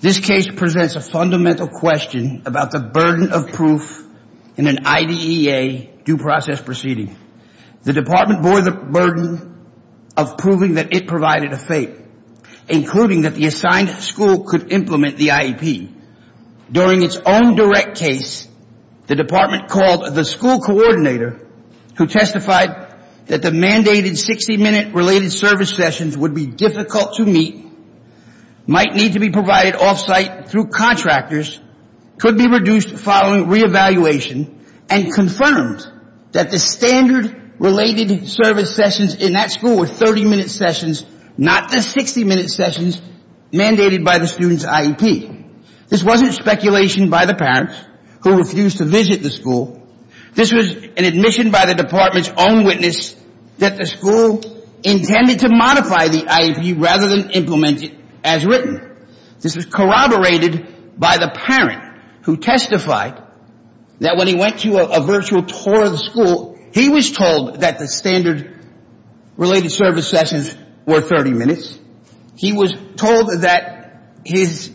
This case presents a fundamental question about the burden of proof in an IDEA due process proceeding. The Department bore the burden of proving that it provided a fate, including that the assigned school could implement the IEP. During its own direct case, the Department called the school coordinator, who testified that the mandated 60-minute related service sessions would be difficult to meet, might need to be provided off-site through contractors, could be reduced following re-evaluation, and confirmed that the standard related service sessions in that school were 30-minute sessions, not the 60-minute sessions mandated by the student's IEP. This wasn't speculation by the parents who refused to visit the school. This was an admission by the Department's own witness that the school intended to modify the IEP rather than implement it as written. This was corroborated by the parent who testified that when he went to a virtual tour of the school for 30 minutes, he was told that his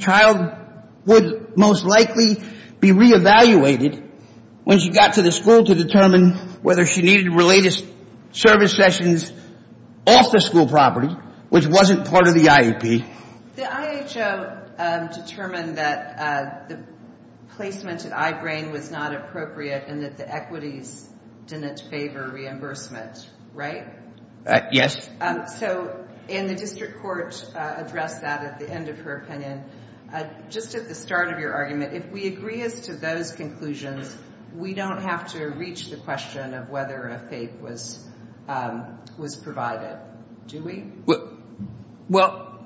child would most likely be re-evaluated when she got to the school to determine whether she needed related service sessions off the school property, which wasn't part of the IEP. The IHO determined that the placement at I-Brain was not appropriate and that the equities didn't favor reimbursement, right? Yes. So, and the district court addressed that at the end of her opinion. Just at the start of your argument, if we agree as to those conclusions, we don't have to reach the question of whether a FAPE was provided, do we? Well,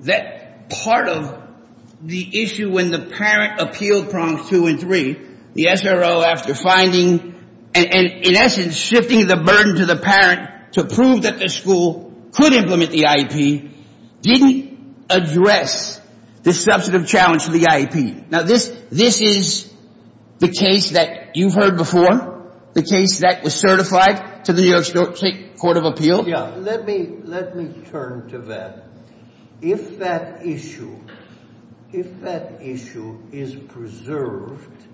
that part of the issue when the parent appealed prongs two and three, the SRO after finding, and in essence shifting the burden to the parent to prove that the school could implement the IEP, didn't address the substantive challenge to the IEP. Now, this is the case that you've heard before, the case that was certified to the New York State Court of Appeal. Yeah. Let me turn to that. If that issue, if that issue is preserved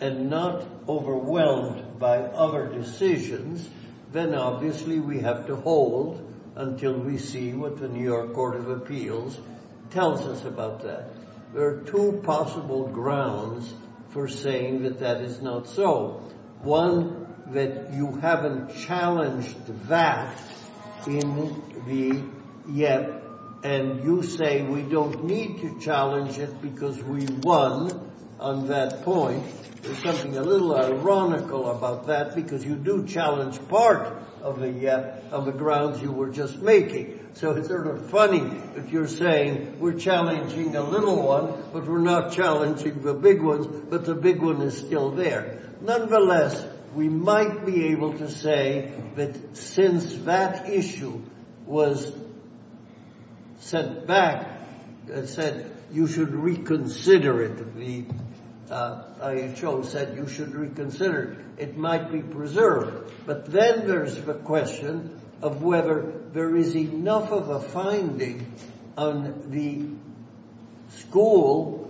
and not overwhelmed by other decisions, then obviously we have to hold until we see what the New York Court of Appeals tells us about that. There are two possible grounds for saying that that is not so. One, that you haven't challenged that in the IEP, and you say we don't need to challenge it because we won on that point. There's something a little ironical about that because you do challenge part of the IEP, of the grounds you were just making. So it's sort of funny if you're saying we're challenging a little one, but we're not challenging the big ones, but the big one is still there. Nonetheless, we might be able to say that since that issue was set back, said you should reconsider it, the IHO said you should reconsider it, it might be preserved. But then there's the question of whether there is enough of a finding on the school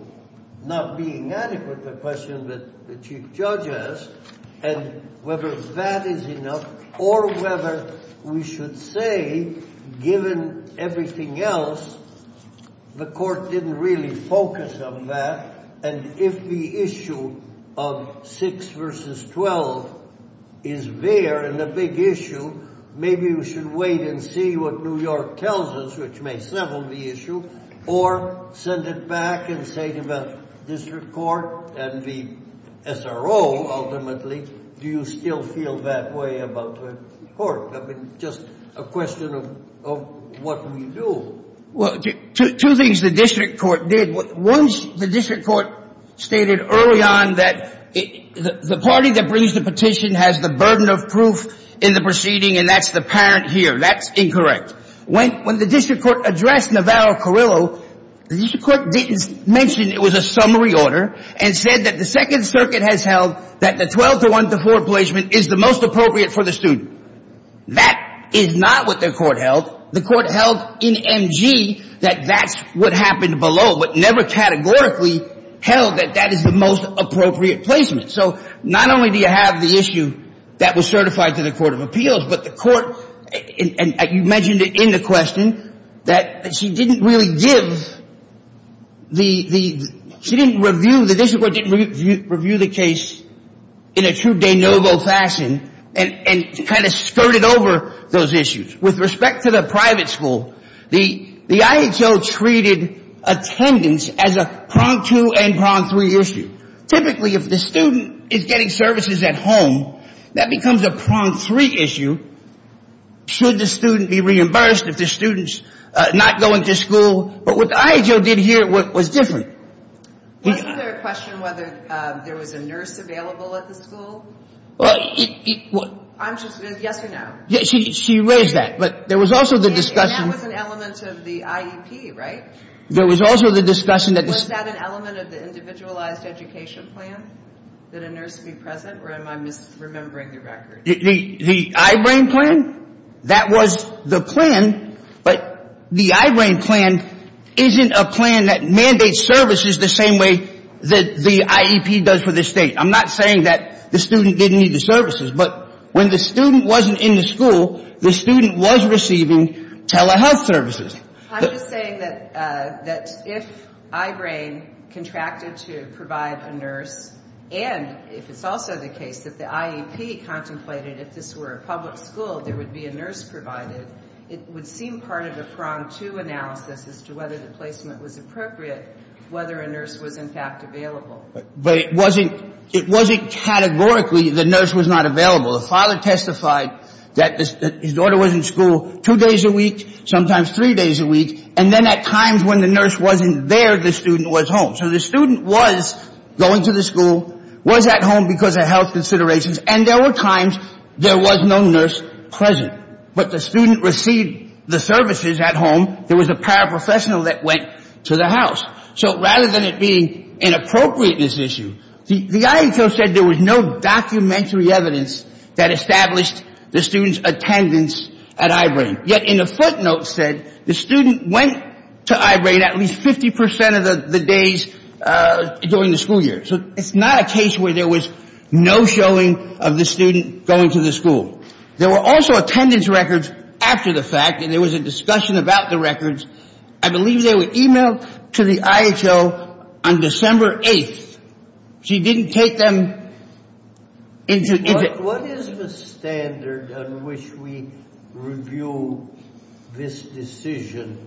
not being adequate, the question that the Chief Judge asked, and whether that is enough or whether we should say given everything else, the court didn't really focus on that, and if the issue of 6 v. 12 is there and a big issue, maybe we should wait and see what New York tells us, which may settle the issue, or send it back and say to the district court and the SRO ultimately, do you still feel that way about the court? I mean, just a question of what we do. Well, two things the district court did. One, the district court stated early on that the party that brings the petition has the burden of proof in the proceeding, and that's the parent here. That's incorrect. When the district court addressed Navarro-Carrillo, the district court didn't mention it was a summary order and said that the Second Circuit has held that the 12 to 1 to 4 placement is the most appropriate for the student. That is not what the court held. The court held in MG that that's what happened below, but never categorically held that that is the most appropriate placement. So not only do you have the issue that was certified to the Court of Appeals, but the in the question that she didn't really give the, she didn't review, the district court didn't review the case in a true de novo fashion and kind of skirted over those issues. With respect to the private school, the IHL treated attendance as a prong two and prong three issue. Typically, if the student is getting services at home, that becomes a prong three issue Should the student be reimbursed if the student's not going to school? But what the IHL did here was different. Was there a question whether there was a nurse available at the school? I'm just, yes or no? She raised that, but there was also the discussion. That was an element of the IEP, right? There was also the discussion that this Was that an element of the individualized education plan? That a nurse be present, or am I misremembering the record? The I-BRAIN plan? That was the plan, but the I-BRAIN plan isn't a plan that mandates services the same way that the IEP does for the state. I'm not saying that the student didn't need the services, but when the student wasn't in the school, the student was receiving telehealth services. I'm just saying that if I-BRAIN contracted to provide a nurse, and if it's also the case that the IEP contemplated if this were a public school, there would be a nurse provided, it would seem part of a prong to analysis as to whether the placement was appropriate, whether a nurse was in fact available. But it wasn't categorically the nurse was not available. The father testified that his daughter was in school two days a week, sometimes three days a week, and then at times when the nurse wasn't there, the student was home. So the student was going to the school, was at home because of health considerations, and there were times there was no nurse present. But the student received the services at home. There was a paraprofessional that went to the house. So rather than it being inappropriate, this issue, the IHO said there was no documentary evidence that established the student's attendance at I-BRAIN. Yet in a footnote said the student went to I-BRAIN at least 50% of the days during the school year. So it's not a case where there was no showing of the student going to the school. There were also attendance records after the fact, and there was a discussion about the records. I believe they were emailed to the IHO on December 8th. She didn't take them into- What is the standard on which we review this decision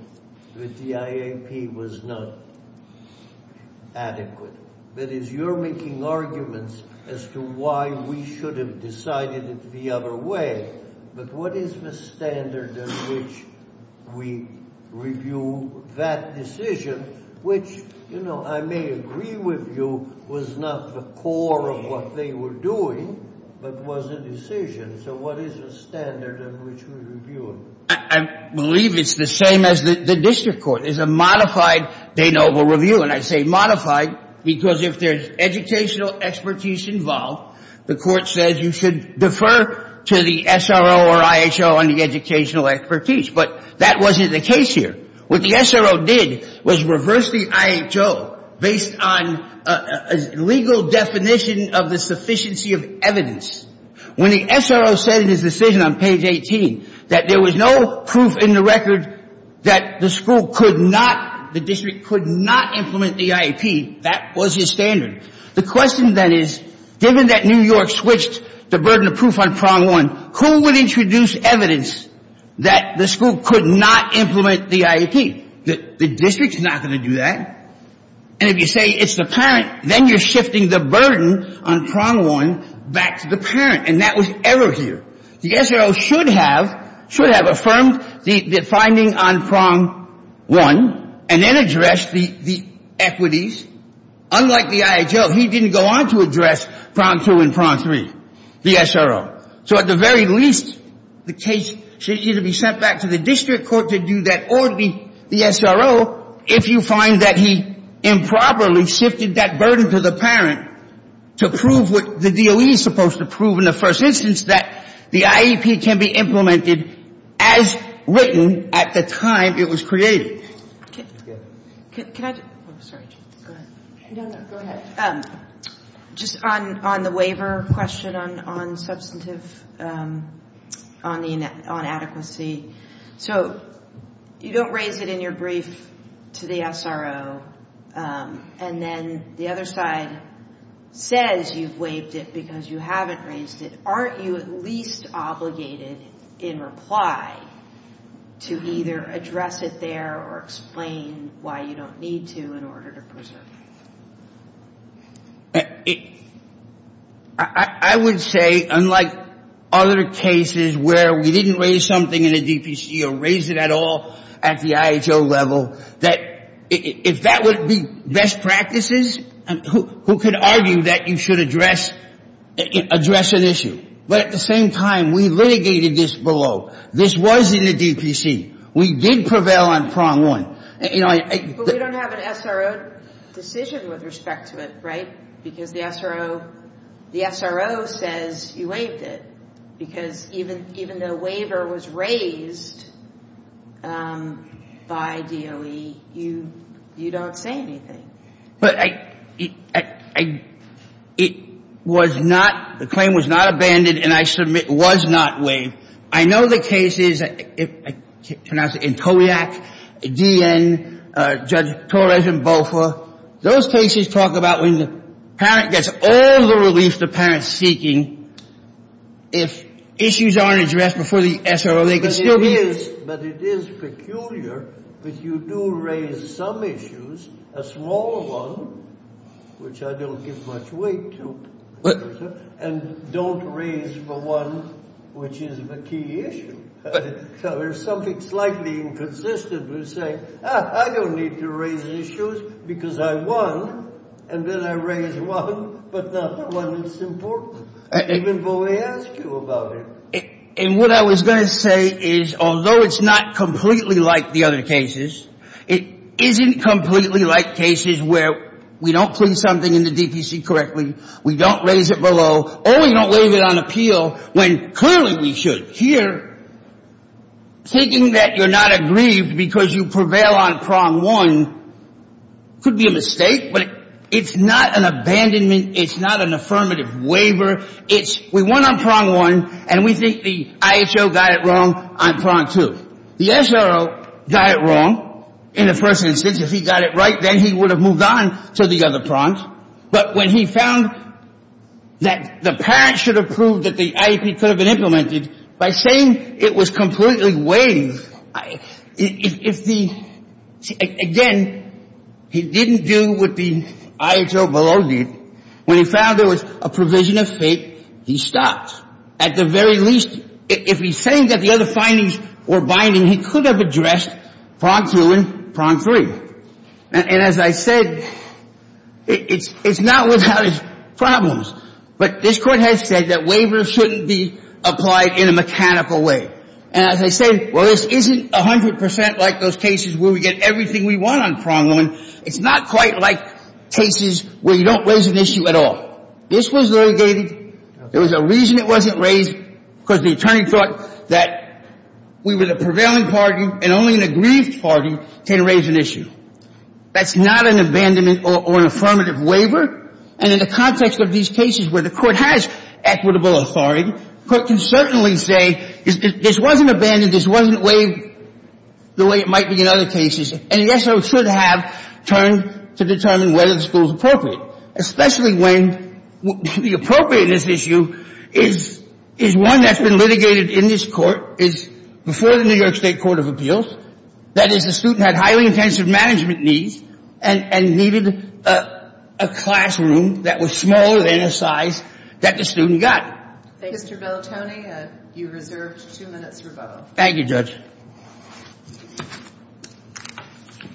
that the IAP was not adequate? That is, you're making arguments as to why we should have decided it the other way, but what is the standard on which we review that decision, which I may agree with you was not the core of what they were doing, but was a decision. So what is the standard on which we review it? I believe it's the same as the district court. It's a modified de novo review, and I say modified because if there's educational expertise involved, the court says you should defer to the SRO or IHO on the educational expertise. But that wasn't the case here. What the SRO did was reverse the IHO based on a legal definition of the sufficiency of evidence. When the SRO said in his decision on page 18 that there was no proof in the record that the school could not, the district could not implement the IAP, that was his standard. The question then is, given that New York switched the burden of proof on prong one, who would introduce evidence that the school could not implement the IAP? The district's not going to do that. And if you say it's the parent, then you're shifting the burden on prong one back to the parent, and that was error here. The SRO should have, should have affirmed the finding on prong one and then addressed the equities. Unlike the IHO, he didn't go on to address prong two and prong three, the SRO. So at the very least, the case should either be sent back to the district court to do that or the SRO, if you find that he improperly shifted that burden to the parent, to prove what the DOE is supposed to prove in the first instance, that the IAP can be implemented as written at the time it was created. Can I just, oh, sorry, go ahead. No, no, go ahead. Just on the waiver question on substantive, on adequacy. So you don't raise it in your brief to the SRO, and then the other side says you've waived it because you haven't raised it. Aren't you at least obligated in reply to either address it there or explain why you don't need to in order to preserve it? I would say, unlike other cases where we didn't raise something in a DPC or raise it at all at the IHO level, that if that would be best practices, who could argue that you should address an issue? But at the same time, we litigated this below. This was in a DPC. We did prevail on prong one. But we don't have an SRO decision with respect to it, right? Because the SRO says you waived it. Because even the waiver was raised by DOE, you don't say anything. But it was not, the claim was not abandoned, and I submit was not waived. I know the cases in Kodiak, D.N., Judge Torres and Bofa, those cases talk about when the parent gets all the relief the parent is seeking. If issues aren't addressed before the SRO, they can still be used. But it is peculiar that you do raise some issues, a small one, which I don't give much weight to, and don't raise the one which is the key issue. So there's something slightly inconsistent with saying, ah, I don't need to raise issues because I won, and then I raise one, but not the one that's important, even though I asked you about it. And what I was going to say is, although it's not completely like the other cases, it isn't completely like cases where we don't plead something in the DPC correctly, we don't raise it below, or we don't waive it on appeal when clearly we should. Here, taking that you're not aggrieved because you prevail on prong one could be a mistake, but it's not an abandonment, it's not an affirmative waiver. It's we won on prong one, and we think the IHO got it wrong on prong two. The SRO got it wrong in the first instance. If he got it right, then he would have moved on to the other prongs. But when he found that the parents should have proved that the IEP could have been implemented, by saying it was completely waived, if the, again, he didn't do what the IHO below did. When he found there was a provision of fate, he stopped. At the very least, if he's saying that the other findings were binding, he could have addressed prong two and prong three. And as I said, it's not without its problems. But this Court has said that waivers shouldn't be applied in a mechanical way. And as I said, well, this isn't 100% like those cases where we get everything we want on prong one. It's not quite like cases where you don't raise an issue at all. This was litigated. There was a reason it wasn't raised, because the attorney thought that we were the prevailing party and only an agreed party can raise an issue. That's not an abandonment or an affirmative waiver. And in the context of these cases where the Court has equitable authority, the Court can certainly say this wasn't abandoned, this wasn't waived the way it might be in other cases. And the S.O. should have turned to determine whether the school is appropriate, especially when the appropriateness issue is one that's been litigated in this Court, is before the New York State Court of Appeals. That is, the student had highly intensive management needs and needed a classroom that was smaller than the size that the student got. Thank you. Mr. Bellatoni, you've reserved two minutes for both. Thank you, Judge. Good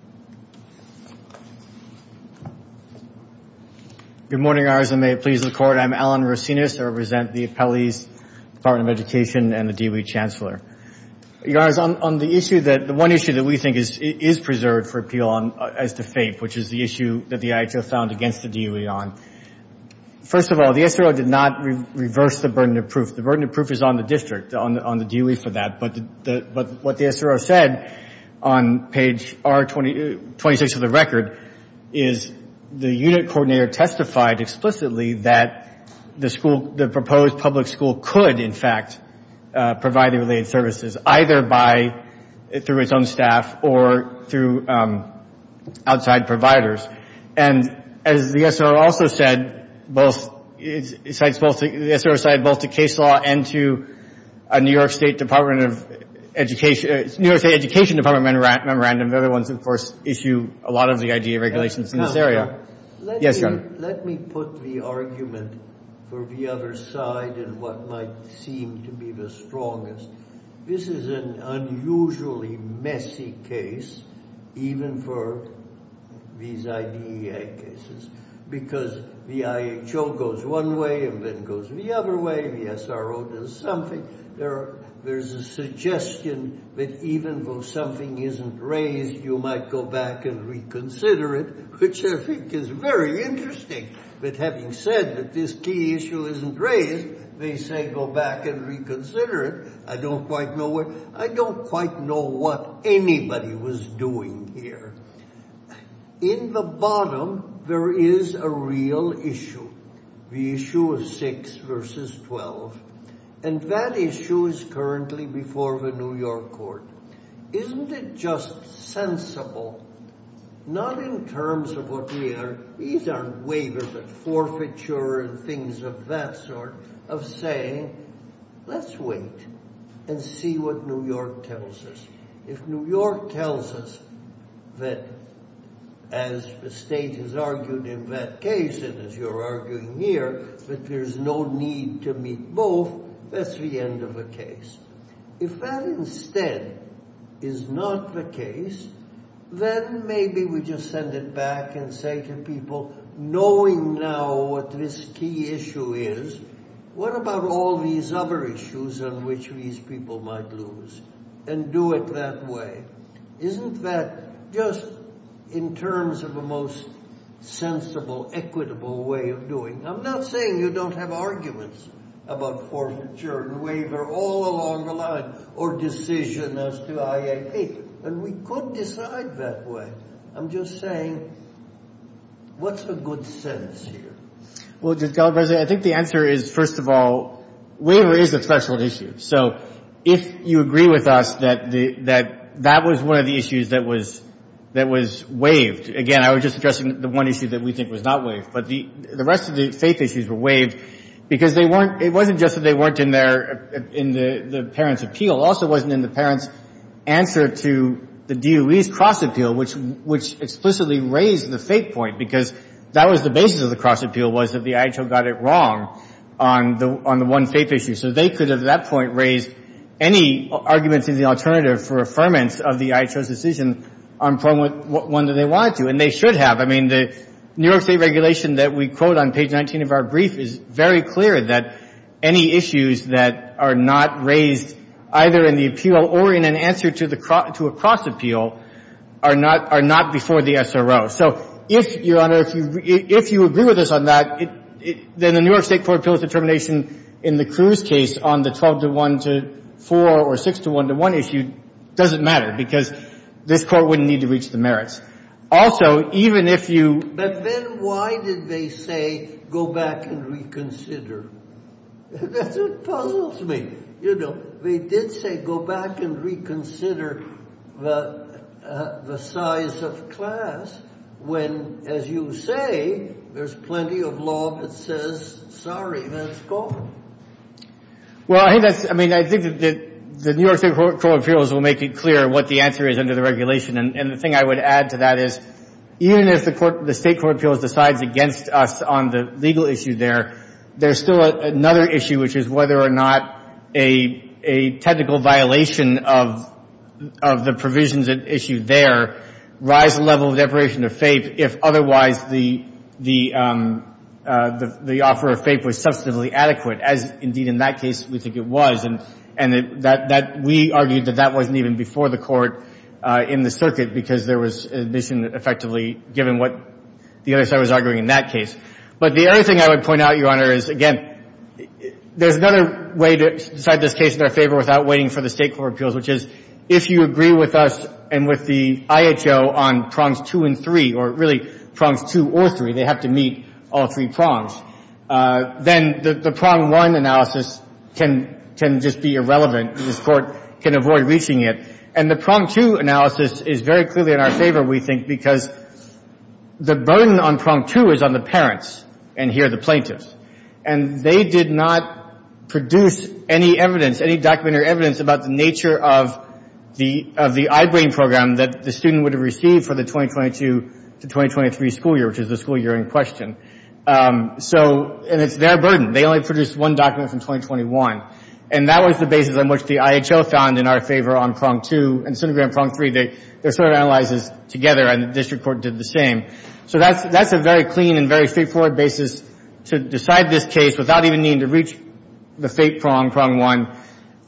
morning. Good morning, Your Honors, and may it please the Court. I'm Alan Racinus. I represent the appellees, Department of Education, and the DOE Chancellor. Your Honors, on the issue that the one issue that we think is preserved for appeal as to FAPE, which is the issue that the IHO found against the DOE on. First of all, the SRO did not reverse the burden of proof. The burden of proof is on the district, on the DOE for that. But what the SRO said on page 26 of the record is the unit coordinator testified explicitly that the proposed public school could, in fact, provide the related services, either through its own staff or through outside providers. And as the SRO also said, both the case law and to a New York State Department of Education, New York State Education Department memorandum, the other ones, of course, issue a lot of the IDEA regulations in this area. Yes, Your Honor. Let me put the argument for the other side in what might seem to be the strongest. This is an unusually messy case, even for these IDEA cases, because the IHO goes one way and then goes the other way. The SRO does something. There's a suggestion that even though something isn't raised, you might go back and reconsider it, which I think is very interesting. But having said that this key issue isn't raised, they say go back and reconsider it. I don't quite know what anybody was doing here. In the bottom, there is a real issue, the issue of 6 v. 12, and that issue is currently before the New York court. Isn't it just sensible, not in terms of what we are, these aren't waivers but forfeiture and things of that sort, of saying let's wait and see what New York tells us. If New York tells us that, as the state has argued in that case and as you're arguing here, that there's no need to meet both, that's the end of the case. If that instead is not the case, then maybe we just send it back and say to people, knowing now what this key issue is, what about all these other issues on which these people might lose, and do it that way. Isn't that just in terms of the most sensible, equitable way of doing? I'm not saying you don't have arguments about forfeiture and waiver all along the line or decision as to IAP, and we could decide that way. I'm just saying what's a good sense here? Well, Judge Gallagher, I think the answer is, first of all, waiver is a special issue. So if you agree with us that that was one of the issues that was waived, again, I was just addressing the one issue that we think was not waived, but the rest of the faith issues were waived because it wasn't just that they weren't in the parents' appeal. It also wasn't in the parents' answer to the DOE's cross appeal, which explicitly raised the faith point, because that was the basis of the cross appeal was that the IHO got it wrong on the one faith issue. So they could, at that point, raise any arguments in the alternative for affirmance of the IHO's decision on one that they wanted to, and they should have. I mean, the New York State regulation that we quote on page 19 of our brief is very clear that any issues that are not raised either in the appeal or in an answer to a cross appeal are not before the SRO. So if, Your Honor, if you agree with us on that, then the New York State Court of Appeals determination in the Cruz case on the 12-to-1-to-4 or 6-to-1-to-1 issue doesn't matter because this Court wouldn't need to reach the merits. Also, even if you— But then why did they say go back and reconsider? That's what puzzles me. You know, they did say go back and reconsider the size of class when, as you say, there's plenty of law that says, sorry, let's go. Well, I think that's—I mean, I think that the New York State Court of Appeals will make it clear what the answer is under the regulation. And the thing I would add to that is even if the State Court of Appeals decides against us on the legal issue there, there's still another issue, which is whether or not a technical violation of the provisions at issue there rise the level of deprivation of faith if otherwise the offer of faith was substantively adequate, as indeed in that case we think it was. And we argued that that wasn't even before the Court in the circuit because there was admission effectively given what the other side was arguing in that case. But the other thing I would point out, Your Honor, is, again, there's another way to decide this case in our favor without waiting for the State Court of Appeals, which is if you agree with us and with the IHO on prongs two and three, or really prongs two or three, they have to meet all three prongs, then the prong one analysis can just be irrelevant and this Court can avoid reaching it. And the prong two analysis is very clearly in our favor, we think, because the burden on prong two is on the parents and here the plaintiffs. And they did not produce any evidence, any documentary evidence, about the nature of the iBrain program that the student would have received for the 2022 to 2023 school year, which is the school year in question. So, and it's their burden. They only produced one document from 2021. And that was the basis on which the IHO found in our favor on prong two. And Centergram, prong three, they're sort of analyzes together and the District Court did the same. So that's a very clean and very straightforward basis to decide this case without even needing to reach the fake prong, prong one,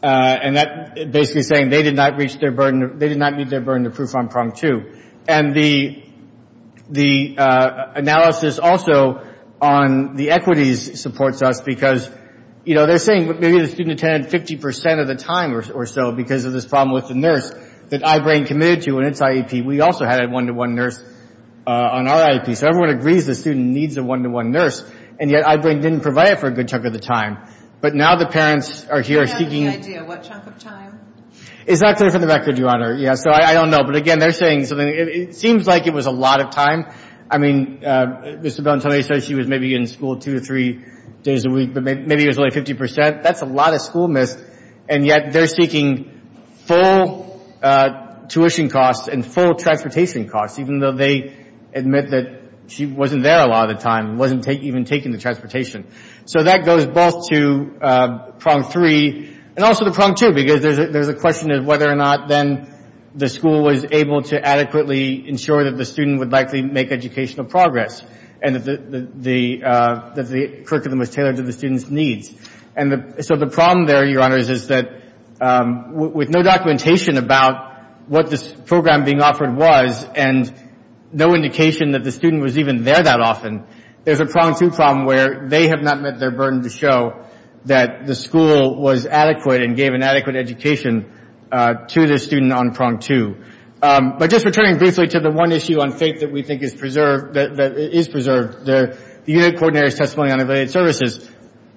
and that basically saying they did not reach their burden, they did not meet their burden of proof on prong two. And the analysis also on the equities supports us because, you know, they're saying maybe the student attended 50% of the time or so because of this problem with the nurse that iBrain committed to in its IEP. We also had a one-to-one nurse on our IEP. So everyone agrees the student needs a one-to-one nurse, and yet iBrain didn't provide it for a good chunk of the time. But now the parents are here seeking. I have no idea what chunk of time. It's not clear from the record, Your Honor. Yeah, so I don't know. But, again, they're saying something. It seems like it was a lot of time. I mean, Mr. Belentone said she was maybe in school two or three days a week, but maybe it was only 50%. That's a lot of school missed, and yet they're seeking full tuition costs and full transportation costs, even though they admit that she wasn't there a lot of the time, wasn't even taking the transportation. So that goes both to prong three and also to prong two because there's a question of whether or not then the school was able to adequately ensure that the student would likely make educational progress and that the curriculum was tailored to the student's needs. And so the problem there, Your Honor, is that with no documentation about what this program being offered was and no indication that the student was even there that often, there's a prong two problem where they have not met their burden to show that the school was adequate and gave an adequate education to the student on prong two. But just returning briefly to the one issue on faith that we think is preserved, the unit coordinator's testimony on evaluated services.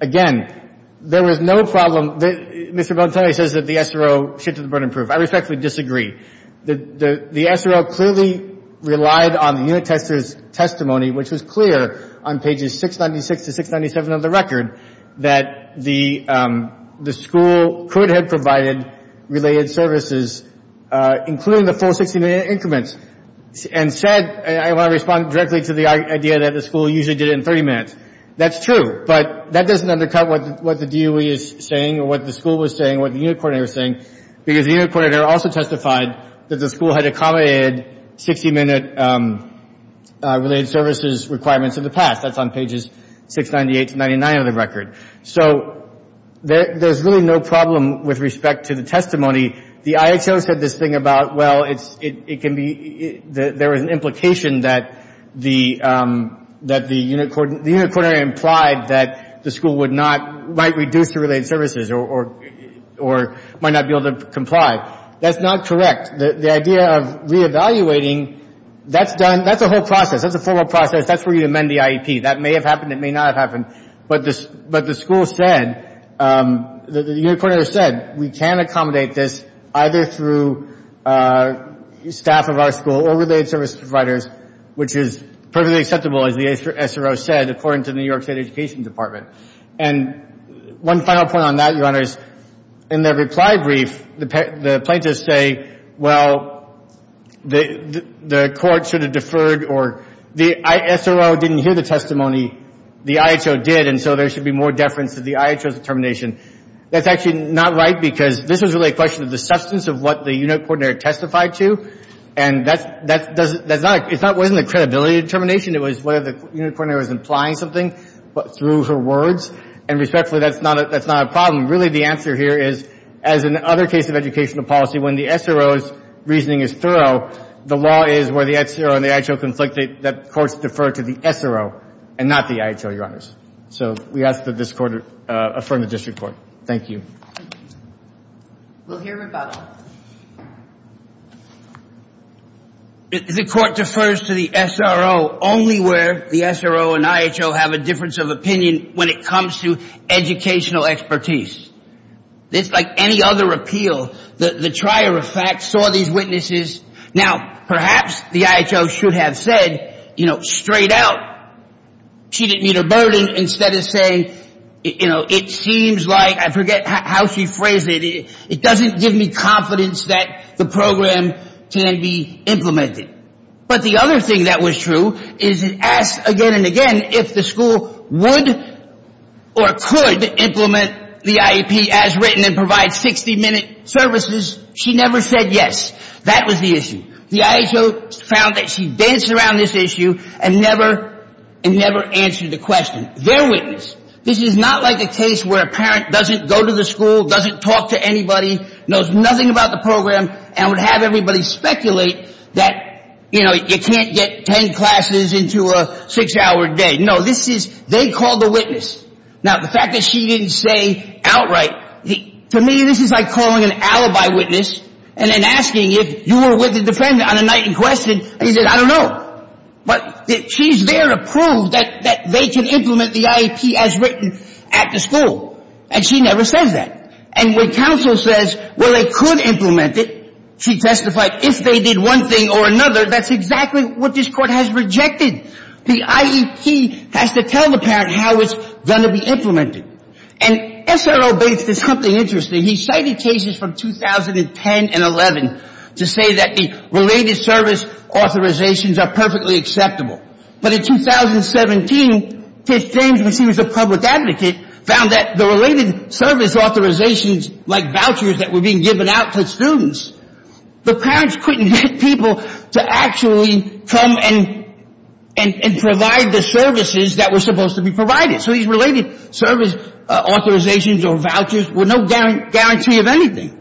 Again, there was no problem. Mr. Belentone says that the SRO shifted the burden proof. I respectfully disagree. The SRO clearly relied on the unit tester's testimony, which was clear on pages 696 to 697 of the record, that the school could have provided related services, including the full 60-minute increments, and said, and I want to respond directly to the idea that the school usually did it in 30 minutes. That's true, but that doesn't undercut what the DOE is saying or what the school was saying or what the unit coordinator was saying because the unit coordinator also testified that the school had accommodated 60-minute related services requirements in the past. That's on pages 698 to 699 of the record. So there's really no problem with respect to the testimony. The IHO said this thing about, well, it can be, there was an implication that the unit coordinator implied that the school would not, might reduce the related services or might not be able to comply. That's not correct. The idea of reevaluating, that's a whole process. That's a formal process. That's where you amend the IEP. That may have happened. It may not have happened. But the school said, the unit coordinator said, we can accommodate this either through staff of our school or related service providers, which is perfectly acceptable, as the SRO said, according to the New York State Education Department. And one final point on that, Your Honors, in the reply brief, the plaintiffs say, well, the court should have deferred or the SRO didn't hear the testimony. The IHO did. And so there should be more deference to the IHO's determination. That's actually not right because this was really a question of the substance of what the unit coordinator testified to. And that's not, it wasn't a credibility determination. It was whether the unit coordinator was implying something through her words. And respectfully, that's not a problem. Really, the answer here is, as in other cases of educational policy, when the SRO's reasoning is thorough, the law is where the SRO and the IHO conflict, that courts defer to the SRO and not the IHO, Your Honors. So we ask that this court affirm the district court. Thank you. We'll hear rebuttal. The court defers to the SRO only where the SRO and IHO have a difference of opinion when it comes to educational expertise. It's like any other appeal. The trier of facts saw these witnesses. Now, perhaps the IHO should have said, you know, straight out, she didn't meet her burden, instead of saying, you know, it seems like, I forget how she phrased it, it doesn't give me confidence that the program can be implemented. But the other thing that was true is it asked again and again if the school would or could implement the IEP as written and provide 60-minute services. She never said yes. That was the issue. The IHO found that she danced around this issue and never answered the question. Their witness. This is not like a case where a parent doesn't go to the school, doesn't talk to anybody, knows nothing about the program, and would have everybody speculate that, you know, you can't get ten classes into a six-hour day. No, this is they called the witness. Now, the fact that she didn't say outright, to me, this is like calling an alibi witness and then asking if you were with the defendant on a night in question, and he said, I don't know. But she's there to prove that they can implement the IEP as written at the school. And she never says that. And when counsel says, well, they could implement it, she testified, if they did one thing or another, that's exactly what this court has rejected. The IEP has to tell the parent how it's going to be implemented. And S.R.O. Bates did something interesting. He cited cases from 2010 and 11 to say that the related service authorizations are perfectly acceptable. But in 2017, Kate James, when she was a public advocate, found that the related service authorizations, like vouchers that were being given out to students, the parents couldn't get people to actually come and provide the services that were supposed to be provided. So these related service authorizations or vouchers were no guarantee of anything.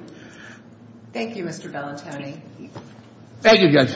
Thank you, Mr. Bellatoni. Thank you, Judge.